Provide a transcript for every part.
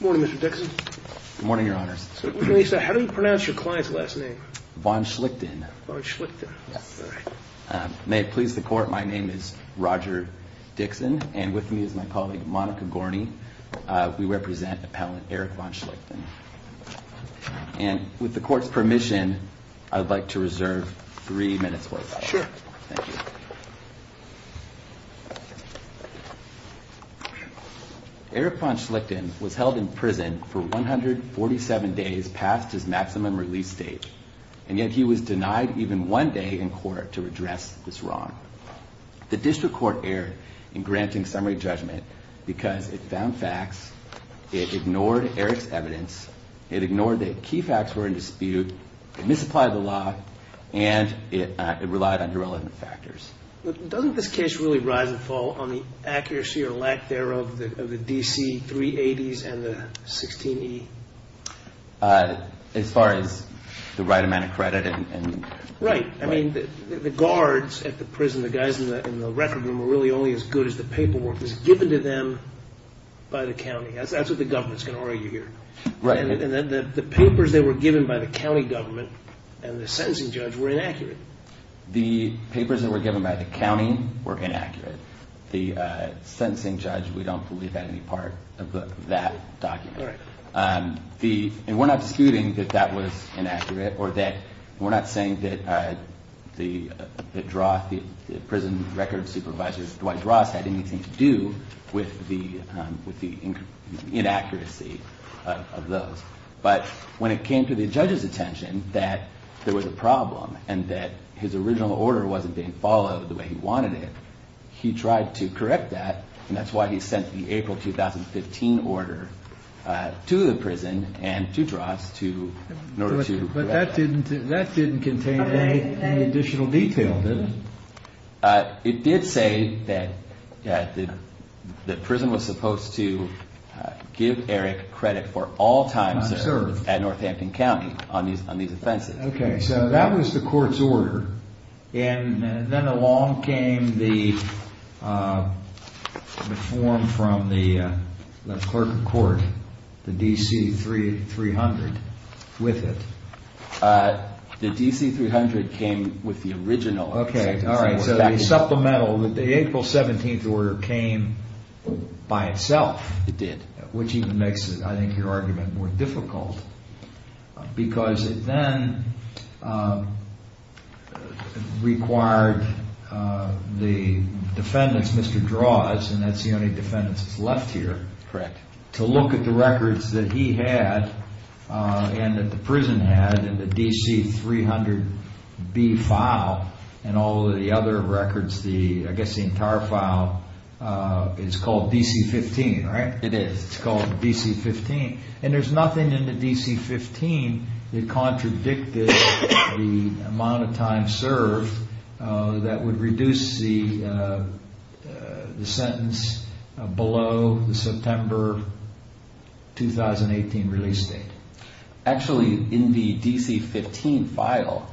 morning mr. Dixon morning your honors so how do you pronounce your client's last name von Schlichten may it please the court my name is Roger Dixon and with me is my colleague Monica Gorney we represent appellant Eric von Schlichten and with the court's permission I would like to reserve three minutes worth Eric von Schlichten was held in prison for 147 days past his maximum release date and yet he was denied even one day in court to address this wrong the district court erred in granting summary judgment because it found facts it ignored Eric's evidence it ignored that key facts were in dispute it misapplied the law and it relied on irrelevant factors doesn't this case really rise and fall on the accuracy or lack thereof the DC 380s and the 16e as far as the right amount of credit and right I mean the guards at the prison the guys in the in the record room were really only as good as the paperwork was given to them by the county that's what the government's gonna argue here right and the papers that were given by the county government and the sentencing judge were inaccurate the papers that were given by the county were inaccurate the sentencing judge we don't believe that any part of that document the and we're not disputing that that was inaccurate or that we're not saying that the draw the prison record supervisors Dwight Ross had anything to do with the inaccuracy of those but when it came to the judges attention that there was a problem and that his original order wasn't being followed the way he wanted it he tried to correct that and that's why he sent the April 2015 order to the prison and to dross to that didn't that didn't contain any additional detail it did say that that the prison was supposed to give Eric credit for all times there at Northampton County on these on these offenses okay so that was the court's order and then along came the form from the clerk of court the DC three three hundred with it the DC 300 came with the original okay all right supplemental that the April 17th order came by itself it did which even makes it I think your argument more difficult because it then required the defendants mr. draws and that's the only defendants left here correct to look at the records that he had and that the prison had in the DC 300 B file and all the other records the I guess the entire file it's called DC 15 right it is it's called DC 15 and there's nothing in the DC 15 that contradicted the amount of time served that would reduce the the sentence below the September 2018 release date actually in the DC 15 file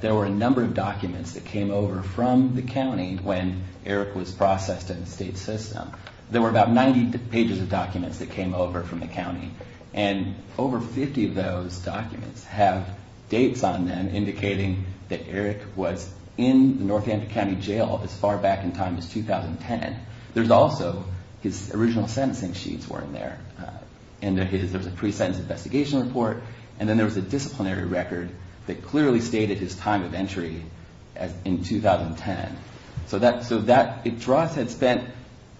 there were a number of documents that came over from the county when Eric was processed in the state system there were about 90 pages of documents that came over from the county and over 50 of those documents have dates on them indicating that Eric was in the Northampton County Jail as far back in time as 2010 there's also his original sentencing sheets weren't there and there's a pre-sentence investigation report and then there was a disciplinary record that clearly stated his time of entry as in 2010 so that so that it draws had spent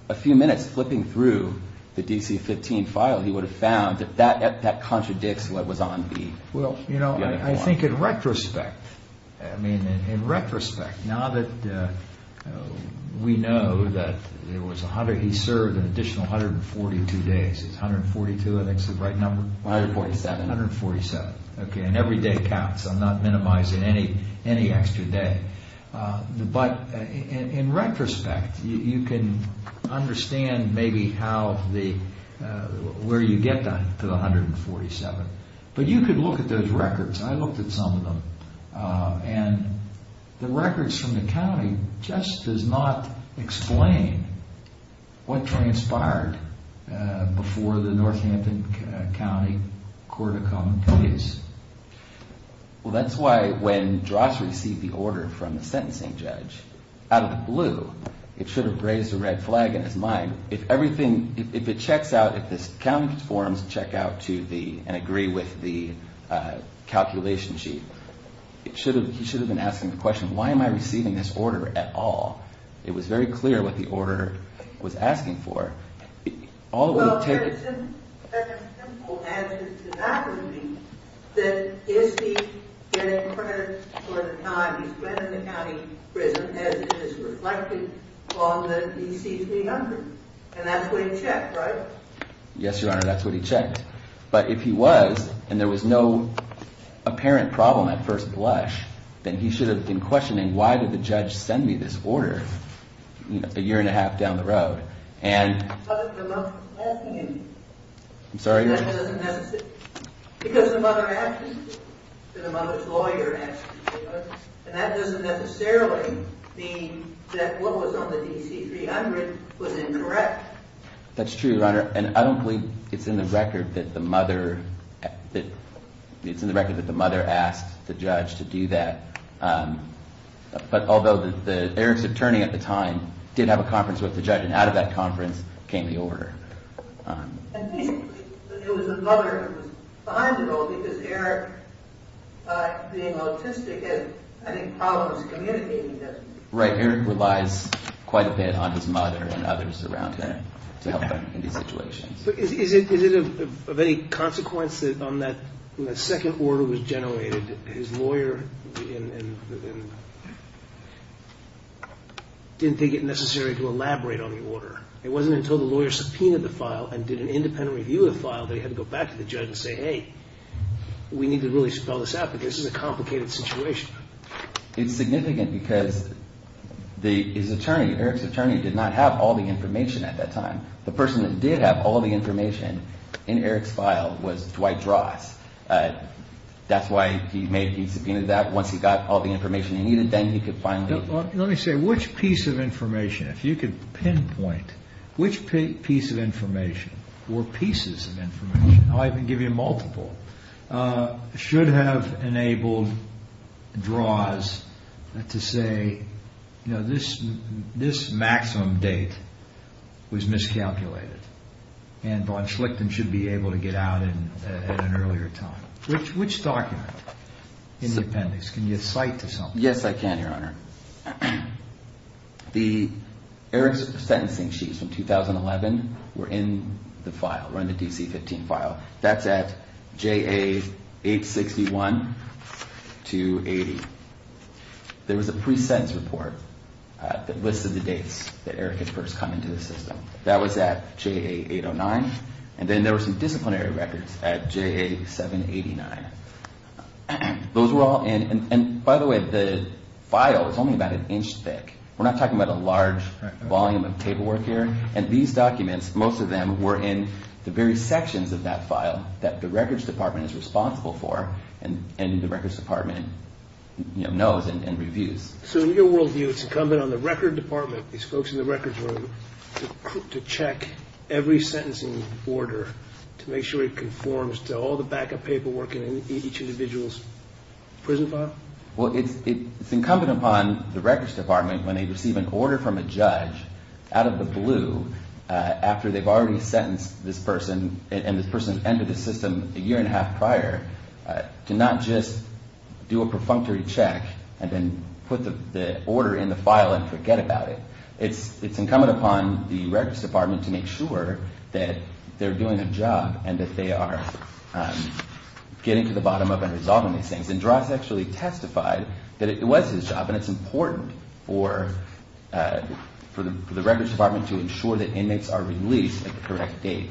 a few minutes flipping through the DC 15 file he would have found that that that contradicts what was on the well you know I think in retrospect I mean in retrospect now that we know that there was a hundred he served an additional 142 days it's 142 I think's the right number 147 147 okay and every day counts I'm not minimizing any any extra day but in retrospect you can understand maybe how the where you get done to the 147 but you could look at those records I looked at some of them and the records from the county just does not explain what transpired before the Northampton County Court of Common Case well that's why when dross received the order from the sentencing judge out of the blue it should have raised a red flag in his mind if everything if it checks out at this county forums check out to the and agree with the calculation sheet it should have he should have been asking the question why am I receiving this order at all it was very clear what the yes your honor that's what he checked but if he was and there was no apparent problem at first blush then he should have been questioning why did the judge send me this order you know it's a year and a half down the road and I'm sorry that doesn't necessarily mean that what was on the DC 300 was incorrect that's true your honor and I don't believe it's in the record that the mother that it's in the record that the mother asked the judge to do that but although the errands attorney at the time did have a conference with the judge and out of that conference came the order right here it relies quite a bit on his mother and others around them to help them in these situations but is it of any consequences on that the second order was generated his lawyer didn't think it necessary to elaborate on the order it wasn't until the lawyer subpoenaed the file and did an independent review of file they had to go back to the judge and say hey we need to really spell this out but this is a complicated situation it's significant because the his attorney Eric's attorney did not have all the information at that time the person that did have all the information in Eric's file was Dwight Ross that's why he made he subpoenaed that once he got all the information he needed then he could finally let me say which piece of information if you could pinpoint which piece of information or pieces of information I can give you multiple should have enabled draws to say you know this this maximum date was miscalculated and Von Schlichten should be able to get out in an earlier time which which document in the appendix can the Eric's sentencing sheets from 2011 were in the file run the DC 15 file that's at JA 861 to 80 there was a pre-sentence report that listed the dates that Eric had first come into the system that was at JA 809 and then there were some disciplinary records at JA 789 those were all in and by the way the file is only about an inch thick we're not talking about a large volume of paperwork here and these documents most of them were in the very sections of that file that the records department is responsible for and in the records department you know knows and reviews so in your world view it's incumbent on the record department these folks in the records room to check every sentencing order to make sure it conforms to all the backup paperwork in each individual's prison file? Well it's incumbent upon the records department when they receive an order from a judge out of the blue after they've already sentenced this person and this person's entered the system a year and a half prior to not just do a perfunctory check and then put the order in the file and forget about it it's it's incumbent upon the records department to make sure that they're doing a job and that they are getting to the bottom of and resolving these things and Droz actually testified that it was his job and it's important for the records department to ensure that inmates are released at the correct date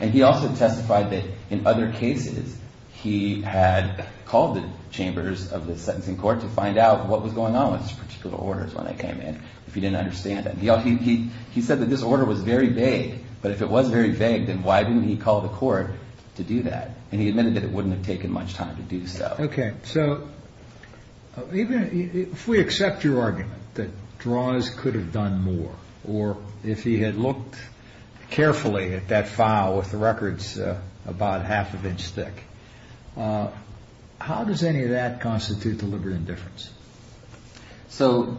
and he also testified that in other cases he had called the chambers of the sentencing court to find out what was going on with particular orders when they came in if you didn't understand that he said that this but if it was very vague then why didn't he call the court to do that and he admitted it wouldn't have taken much time to do so. Okay so if we accept your argument that Droz could have done more or if he had looked carefully at that file with the records about half an inch thick how does any of that constitute deliberate indifference? So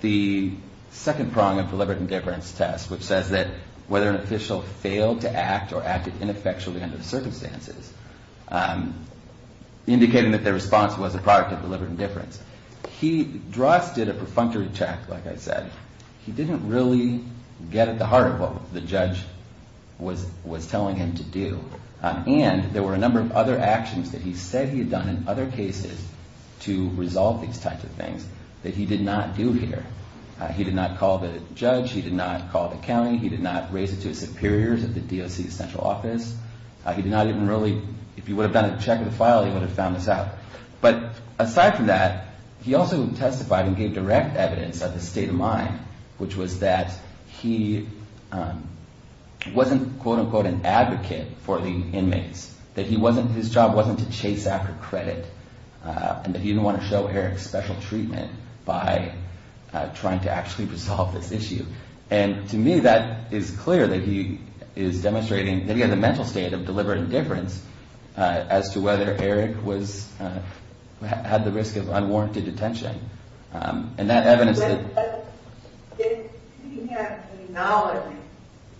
the second prong of deliberate indifference test which says that whether an official failed to act or acted ineffectually under the circumstances indicating that the response was a product of deliberate indifference he Droz did a perfunctory check like I said he didn't really get at the heart of what the judge was was telling him to do and there were a number of other actions that he said he had done in other cases to resolve these types of things that he did not do here he did not call the judge he did not call the county he did not raise it to superiors of the DOC central office he did not even really if he would have done a check of the file he would have found this out but aside from that he also testified and gave direct evidence of the state of mind which was that he wasn't quote-unquote an advocate for the inmates that he wasn't his job wasn't to chase after credit and that he didn't want to show Eric special treatment by trying to actually resolve this issue and to me that is clear that he is demonstrating that he had the mental state of deliberate indifference as to whether Eric was had the risk of unwarranted detention and that evidence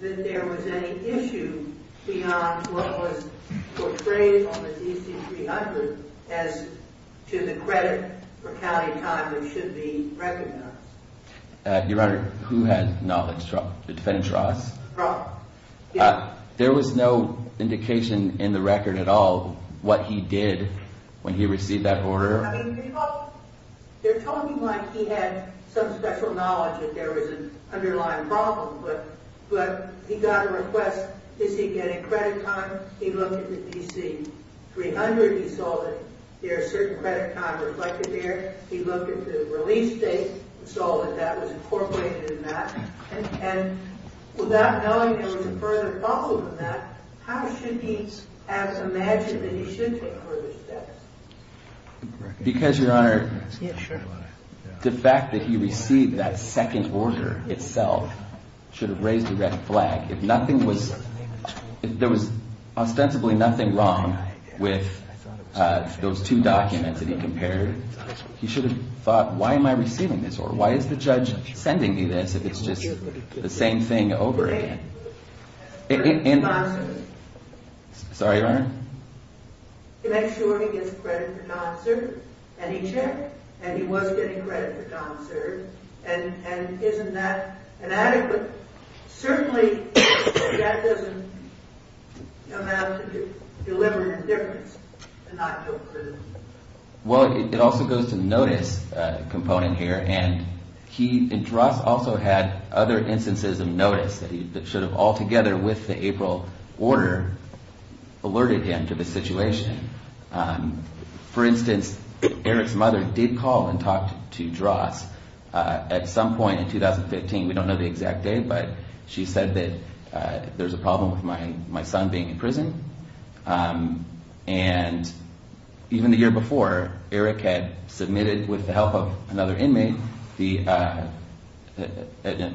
there was no indication in the record at all what he did when he received that they're telling me like he had some special knowledge that there was an underlying problem but but he got a request is he getting credit time he looked at the DC 300 he saw that there are certain credit time reflected there he looked at the release date and saw that that was incorporated in that and without knowing further how should he because your honor the fact that he received that second order itself should have raised a red flag if nothing was if there was ostensibly nothing wrong with those two documents that he compared he should have thought why am I receiving this or why is the judge sending me this if it's just the same thing over again sorry your honor he makes sure he gets credit for non-serve and he checked and he was getting credit for non-serve and isn't that inadequate certainly that doesn't allow him to deliver indifference and not go to prison well it also goes to notice component here and he also had other instances of notice that should have all together with the April order alerted him to the situation for instance Eric's mother did call and talk to dross at some point in 2015 we don't know the exact day but she said that there's a problem with my my son being in prison and even the year before Eric had submitted with the help of another inmate a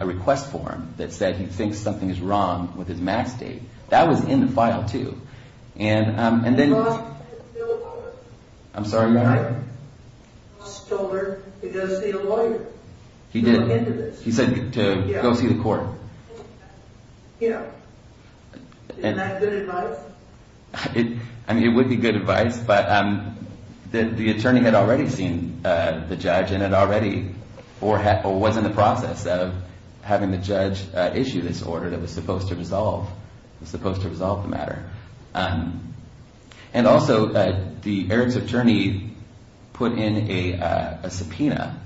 request form that said he thinks something is wrong with his mass date that was in the file too and then I'm sorry your honor he did he said to go see the court yeah I mean it would be good advice but um the attorney had already seen the judge and had already or had or was in the process of having the judge issue this order that was and also that the Eric's attorney put in a subpoena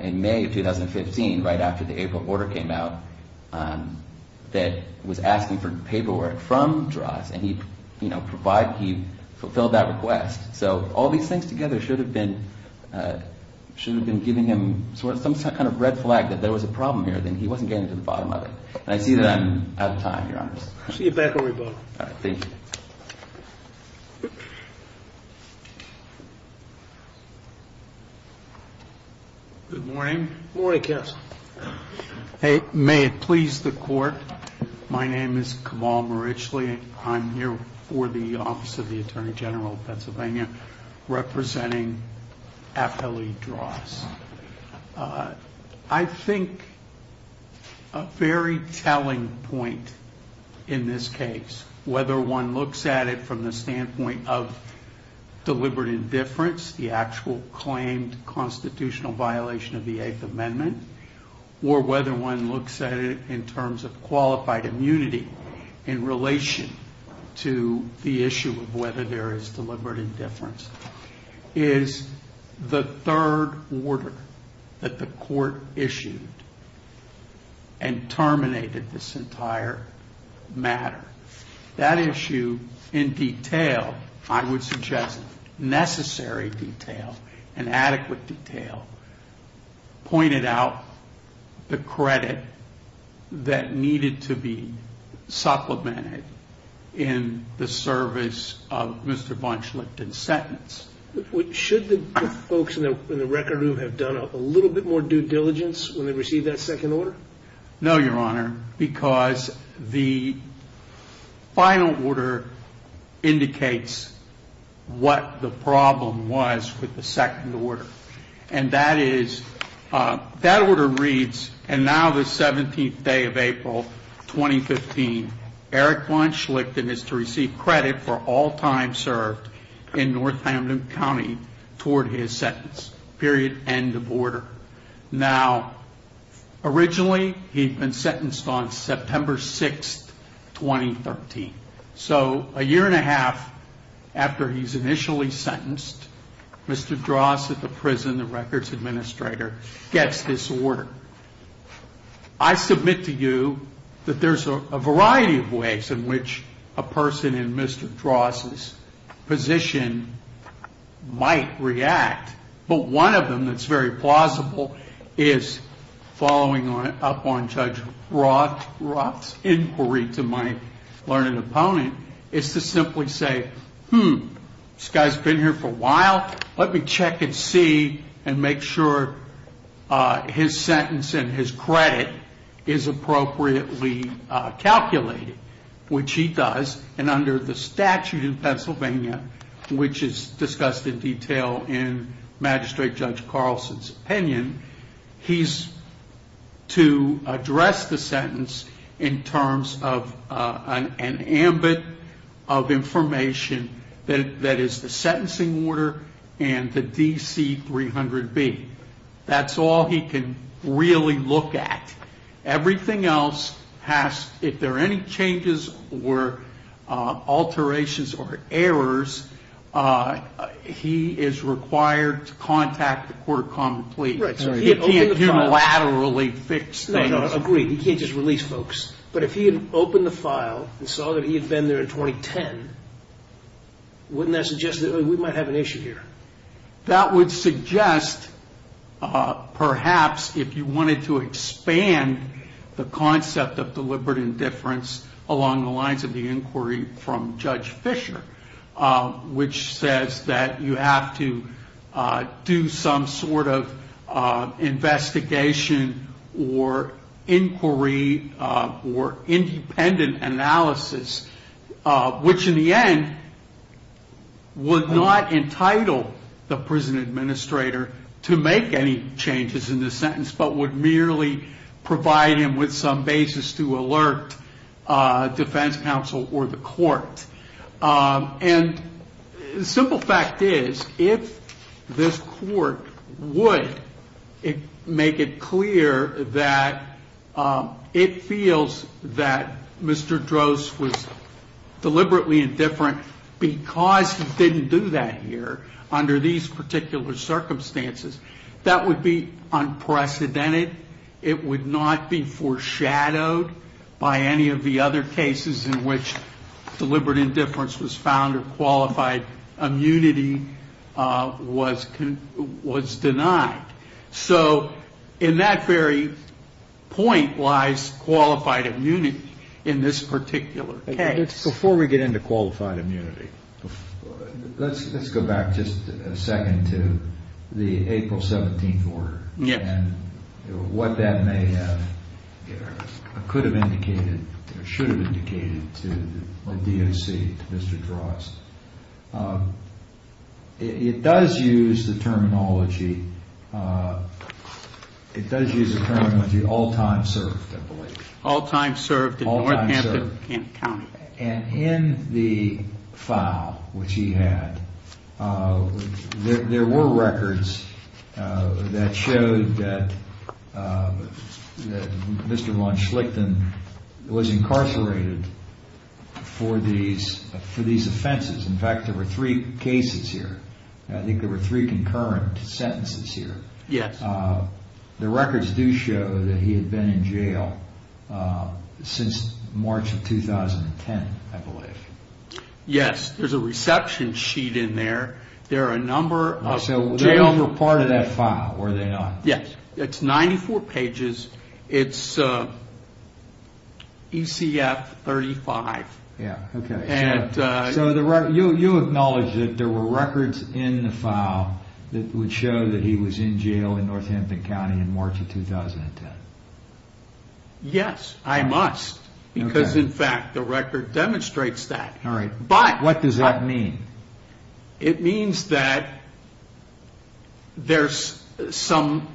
in May 2015 right after the April order came out that was asking for paperwork from dross and he you know provided he fulfilled that request so all these things together should have been should have been giving him some kind of red flag that there was a problem here he wasn't getting to the bottom of it and I see that I'm out of time your honor. See you back where we both are. Thank you. Good morning. Good morning counsel. Hey may it please the court my name is Kamal Marichly I'm here for the office of the attorney general of Pennsylvania representing FLE dross. I think a very telling point in this case whether one looks at it from the standpoint of deliberate indifference the actual claimed constitutional violation of the eighth amendment or whether one looks at it in terms of qualified immunity in relation to the issue of whether there is deliberate indifference. Is the third order that the court issued and terminated this entire matter. That issue in detail I would suggest necessary detail and adequate detail pointed out the credit that needed to be supplemented in the service of Mr. Bunchlet and sentence. Should the folks in the record room have done a little bit more due diligence when they received that second order? No your honor because the final order indicates what the problem was with the second order. And that is that order reads and now the 17th day of April 2015 Eric Bunchlet is to receive credit for all time served in Northampton County toward his sentence period end of order. Now originally he'd been sentenced on September 6th 2013. So a year and a half after he's initially sentenced Mr. Dross at the prison the records administrator gets this order. I submit to you that there's a variety of ways in which a person in Mr. Dross's position might react. But one of them that's very plausible is following up on Judge Roth's inquiry to my learned opponent is to simply say this guy's been here for a while. Let me check and see and make sure his sentence and his credit is appropriately calculated. Which he does and under the statute of Pennsylvania which is discussed in detail in magistrate Judge Carlson's opinion. He's to address the sentence in terms of an ambit of information that is the sentencing order and the DC 300B. That's all he can really look at. Everything else has if there are any changes or alterations or errors he is required to contact the court of common plea. He can't unilaterally fix things. I agree he can't just release folks. But if he had opened the file and saw that he had been there in 2010 wouldn't that suggest that we might have an issue here? That would suggest perhaps if you wanted to expand the concept of deliberate indifference along the lines of the inquiry from Judge Fisher. Which says that you have to do some sort of investigation or inquiry or independent analysis. Which in the end would not entitle the prison administrator to make any changes in the sentence. But would merely provide him with some basis to alert defense counsel or the court. And the simple fact is if this court would make it clear that it feels that Mr. Droz was deliberately indifferent. Because he didn't do that here under these particular circumstances that would be unprecedented. It would not be foreshadowed by any of the other cases in which deliberate indifference was found or qualified immunity was denied. So in that very point lies qualified immunity in this particular case. Before we get into qualified immunity, let's go back just a second to the April 17th order. Yes. And what that may have or could have indicated or should have indicated to the DOC, Mr. Droz. It does use the terminology, it does use the terminology all time served I believe. All time served in Northampton County. And in the file which he had, there were records that showed that Mr. Von Schlichten was incarcerated for these offenses. In fact there were three cases here. I think there were three concurrent sentences here. Yes. The records do show that he had been in jail since March of 2010 I believe. Yes. There's a reception sheet in there. There are a number of jail. So they were part of that file were they not? Yes. It's 94 pages. It's ECF 35. Yeah. Okay. So you acknowledge that there were records in the file that would show that he was in jail in Northampton County in March of 2010. Yes. I must. Because in fact the record demonstrates that. All right. But. What does that mean? It means that there's some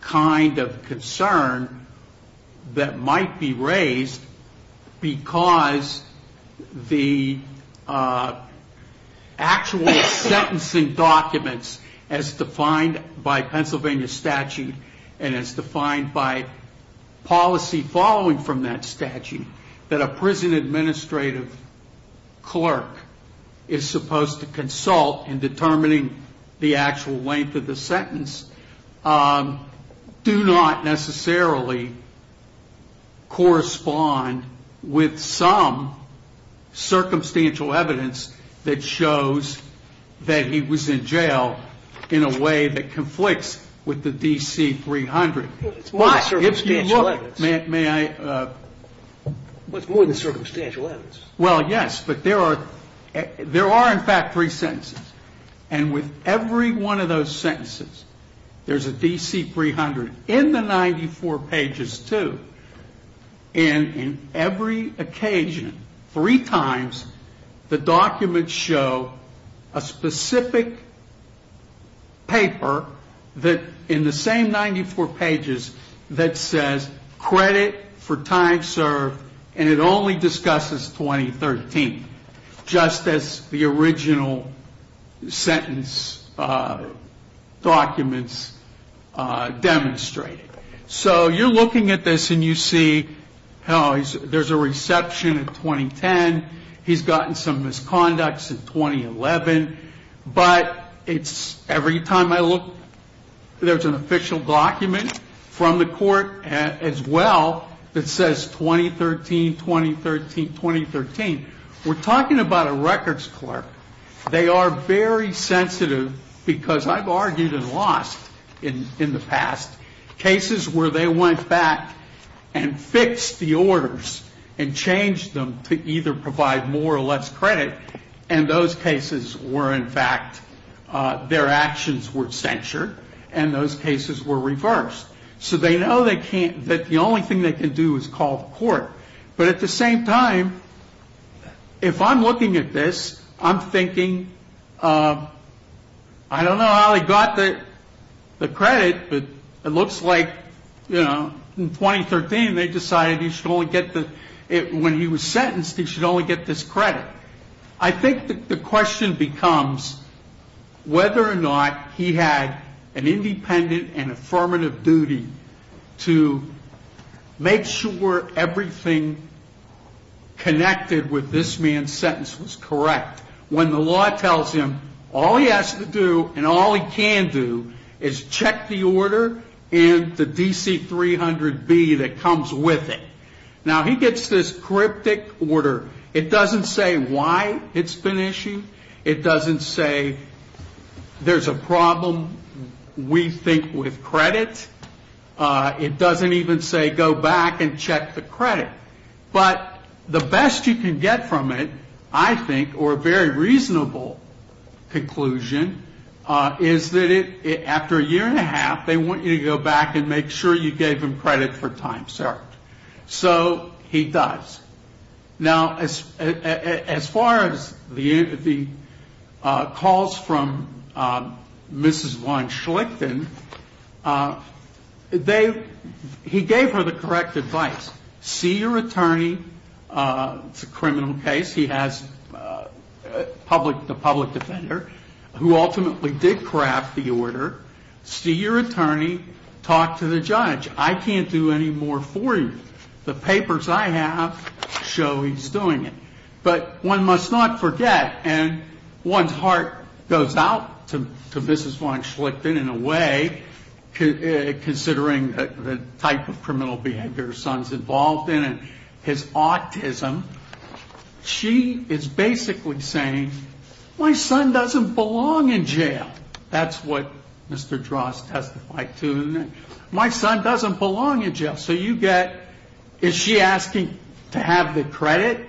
kind of concern that might be raised because the actual sentencing documents as defined by Pennsylvania statute and as defined by policy following from that statute that a prison administrative clerk is supposed to consult in determining the actual length of the sentence do not necessarily correspond with some circumstantial evidence that shows that he was in jail in a way that conflicts with the DC 300. It's not circumstantial evidence. May I? It's more than circumstantial evidence. Well, yes. But there are in fact three sentences. And with every one of those sentences there's a DC 300 in the 94 pages too. And in every occasion three times the documents show a specific paper that in the same 94 pages that says credit for time served and it only discusses 2013. Just as the original sentence documents demonstrate. So you're looking at this and you see there's a reception in 2010. He's gotten some misconducts in 2011. But every time I look there's an official document from the court as well that says 2013, 2013, 2013. We're talking about a records clerk. They are very sensitive because I've argued and lost in the past cases where they went back and fixed the orders and changed them to either provide more or less credit. And those cases were in fact their actions were censured. And those cases were reversed. So they know they can't that the only thing they can do is call the court. But at the same time, if I'm looking at this, I'm thinking I don't know how they got the credit. But it looks like in 2013 they decided when he was sentenced he should only get this credit. I think the question becomes whether or not he had an independent and affirmative duty to make sure everything connected with this man's sentence was correct. When the law tells him all he has to do and all he can do is check the order and the DC-300B that comes with it. Now he gets this cryptic order. It doesn't say why it's been issued. It doesn't say there's a problem we think with credit. It doesn't even say go back and check the credit. But the best you can get from it, I think, or a very reasonable conclusion is that after a year and a half, they want you to go back and make sure you gave them credit for time served. So he does. Now as far as the calls from Mrs. Von Schlichten, he gave her the correct advice. See your attorney. It's a criminal case. He has the public defender who ultimately did craft the order. See your attorney. Talk to the judge. I can't do any more for you. The papers I have show he's doing it. But one must not forget, and one's heart goes out to Mrs. Von Schlichten in a way, considering the type of criminal behavior her son's involved in and his autism. She is basically saying, my son doesn't belong in jail. That's what Mr. Drost testified to. My son doesn't belong in jail. So you get, is she asking to have the credit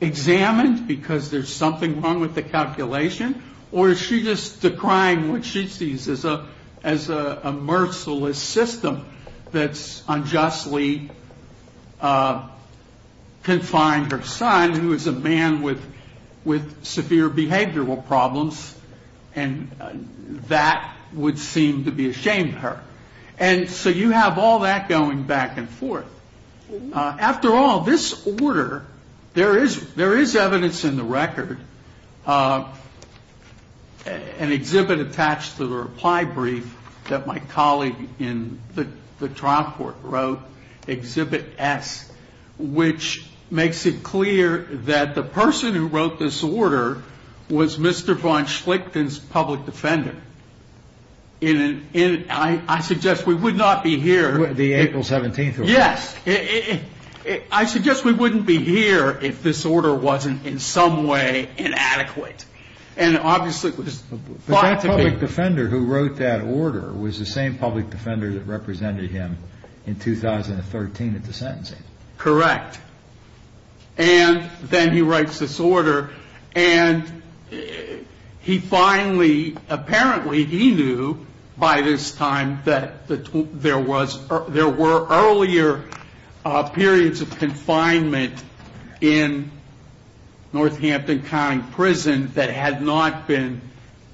examined because there's something wrong with the calculation, or is she just decrying what she sees as a merciless system that's unjustly confined her son, who is a man with severe behavioral problems, and that would seem to be a shame to her. And so you have all that going back and forth. After all, this order, there is evidence in the record, an exhibit attached to the reply brief that my colleague in the trial court wrote, Exhibit S, which makes it clear that the person who wrote this order was Mr. Von Schlichten's public defender. I suggest we would not be here. The April 17th order. Yes. I suggest we wouldn't be here if this order wasn't in some way inadequate. And obviously it was thought to be. But that public defender who wrote that order was the same public defender that represented him in 2013 at the sentencing. Correct. And then he writes this order. And he finally, apparently he knew by this time that there were earlier periods of confinement in Northampton County Prison that had not been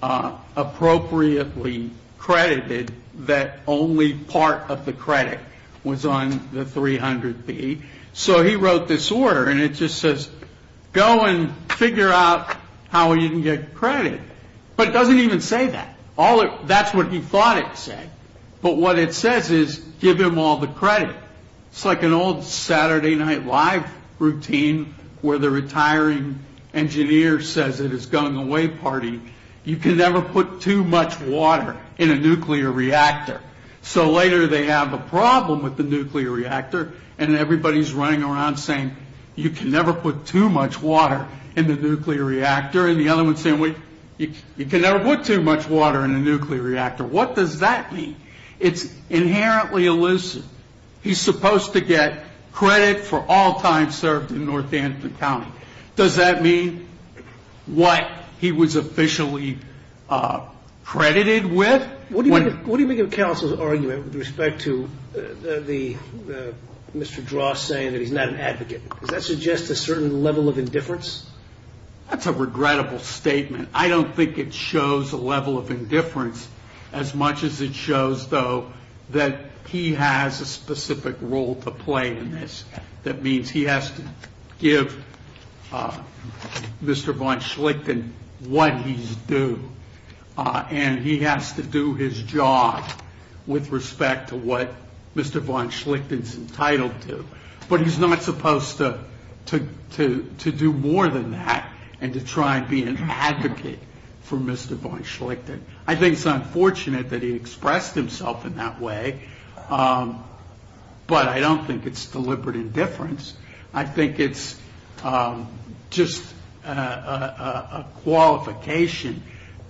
appropriately credited, that only part of the credit was on the 300B. So he wrote this order, and it just says go and figure out how you can get credit. But it doesn't even say that. That's what he thought it said. But what it says is give him all the credit. It's like an old Saturday Night Live routine where the retiring engineer says at his going-away party, you can never put too much water in a nuclear reactor. So later they have a problem with the nuclear reactor, and everybody's running around saying you can never put too much water in the nuclear reactor. And the other one's saying you can never put too much water in a nuclear reactor. What does that mean? It's inherently elusive. He's supposed to get credit for all time served in Northampton County. Does that mean what he was officially credited with? What do you make of counsel's argument with respect to Mr. Drost saying that he's not an advocate? Does that suggest a certain level of indifference? That's a regrettable statement. I don't think it shows a level of indifference as much as it shows, though, that he has a specific role to play in this. That means he has to give Mr. Von Schlichten what he's due, and he has to do his job with respect to what Mr. Von Schlichten's entitled to. But he's not supposed to do more than that and to try and be an advocate for Mr. Von Schlichten. I think it's unfortunate that he expressed himself in that way, but I don't think it's deliberate indifference. I think it's just a qualification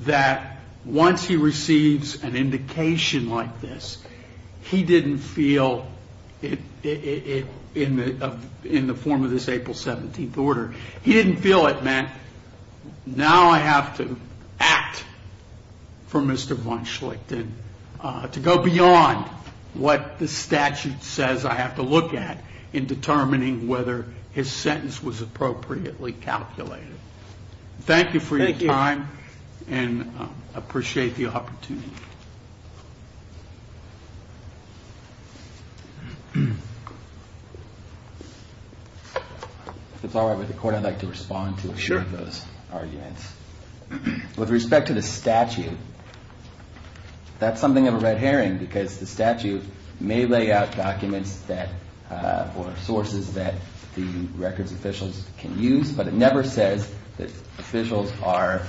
that once he receives an indication like this, he didn't feel it in the form of this April 17th order. He didn't feel it meant now I have to act for Mr. Von Schlichten to go beyond what the statute says I have to look at in determining whether his sentence was appropriately calculated. Thank you for your time, and I appreciate the opportunity. If it's all right with the court, I'd like to respond to a few of those arguments. With respect to the statute, that's something of a red herring because the statute may lay out documents or sources that the records officials can use, but it never says that officials are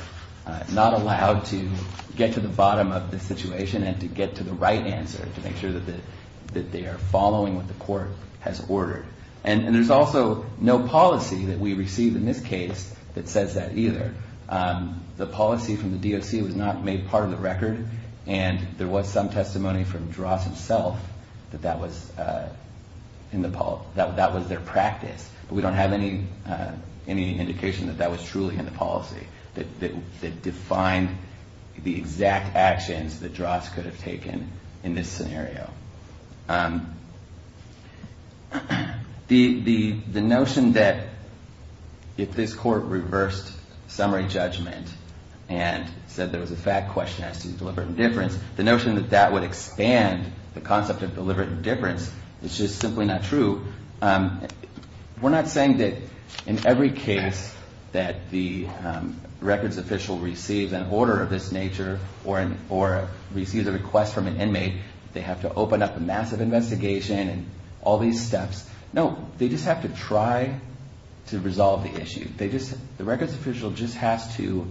not allowed to get to the bottom of the situation and to get to the right answer to make sure that they are following what the court has ordered. There's also no policy that we receive in this case that says that either. The policy from the DOC was not made part of the record, and there was some testimony from Drost himself that that was their practice, but we don't have any indication that that was truly in the policy that defined the exact actions that Drost could have taken in this scenario. The notion that if this court reversed summary judgment and said there was a fact question as to deliberate indifference, the notion that that would expand the concept of deliberate indifference is just simply not true. We're not saying that in every case that the records official receives an order of this nature or receives a request from an inmate, they have to open up a massive investigation and all these steps. No, they just have to try to resolve the issue. The records official just has to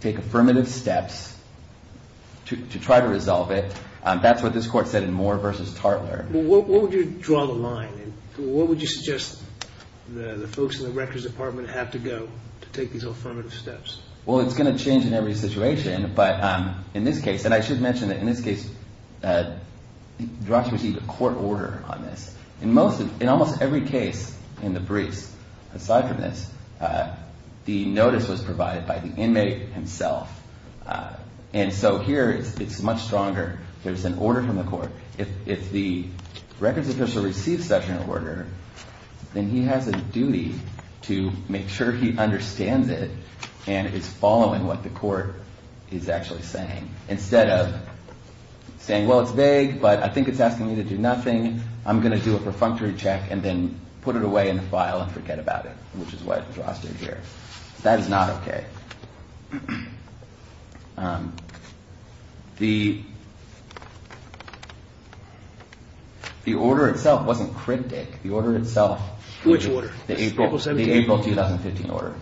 take affirmative steps to try to resolve it. That's what this court said in Moore v. Tartler. What would you draw the line? What would you suggest the folks in the records department have to go to take these affirmative steps? Well, it's going to change in every situation, but in this case, Drost received a court order on this. In almost every case in the briefs, aside from this, the notice was provided by the inmate himself. And so here it's much stronger. There's an order from the court. If the records official receives such an order, then he has a duty to make sure he understands it and is following what the court is actually saying instead of saying, well, it's vague, but I think it's asking me to do nothing. I'm going to do a perfunctory check and then put it away in the file and forget about it, which is what Drost did here. That is not OK. The order itself wasn't cryptic. The order itself, the April 2015 order,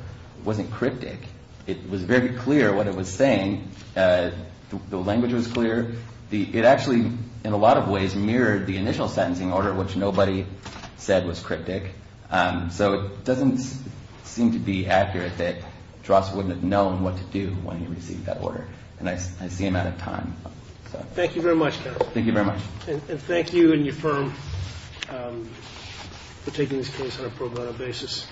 wasn't cryptic. It was very clear what it was saying. The language was clear. It actually, in a lot of ways, mirrored the initial sentencing order, which nobody said was cryptic. So it doesn't seem to be accurate that Drost wouldn't have known what to do when he received that order. And I see him out of time. Thank you very much, counsel. Thank you very much. And thank you and your firm for taking this case on a pro bono basis.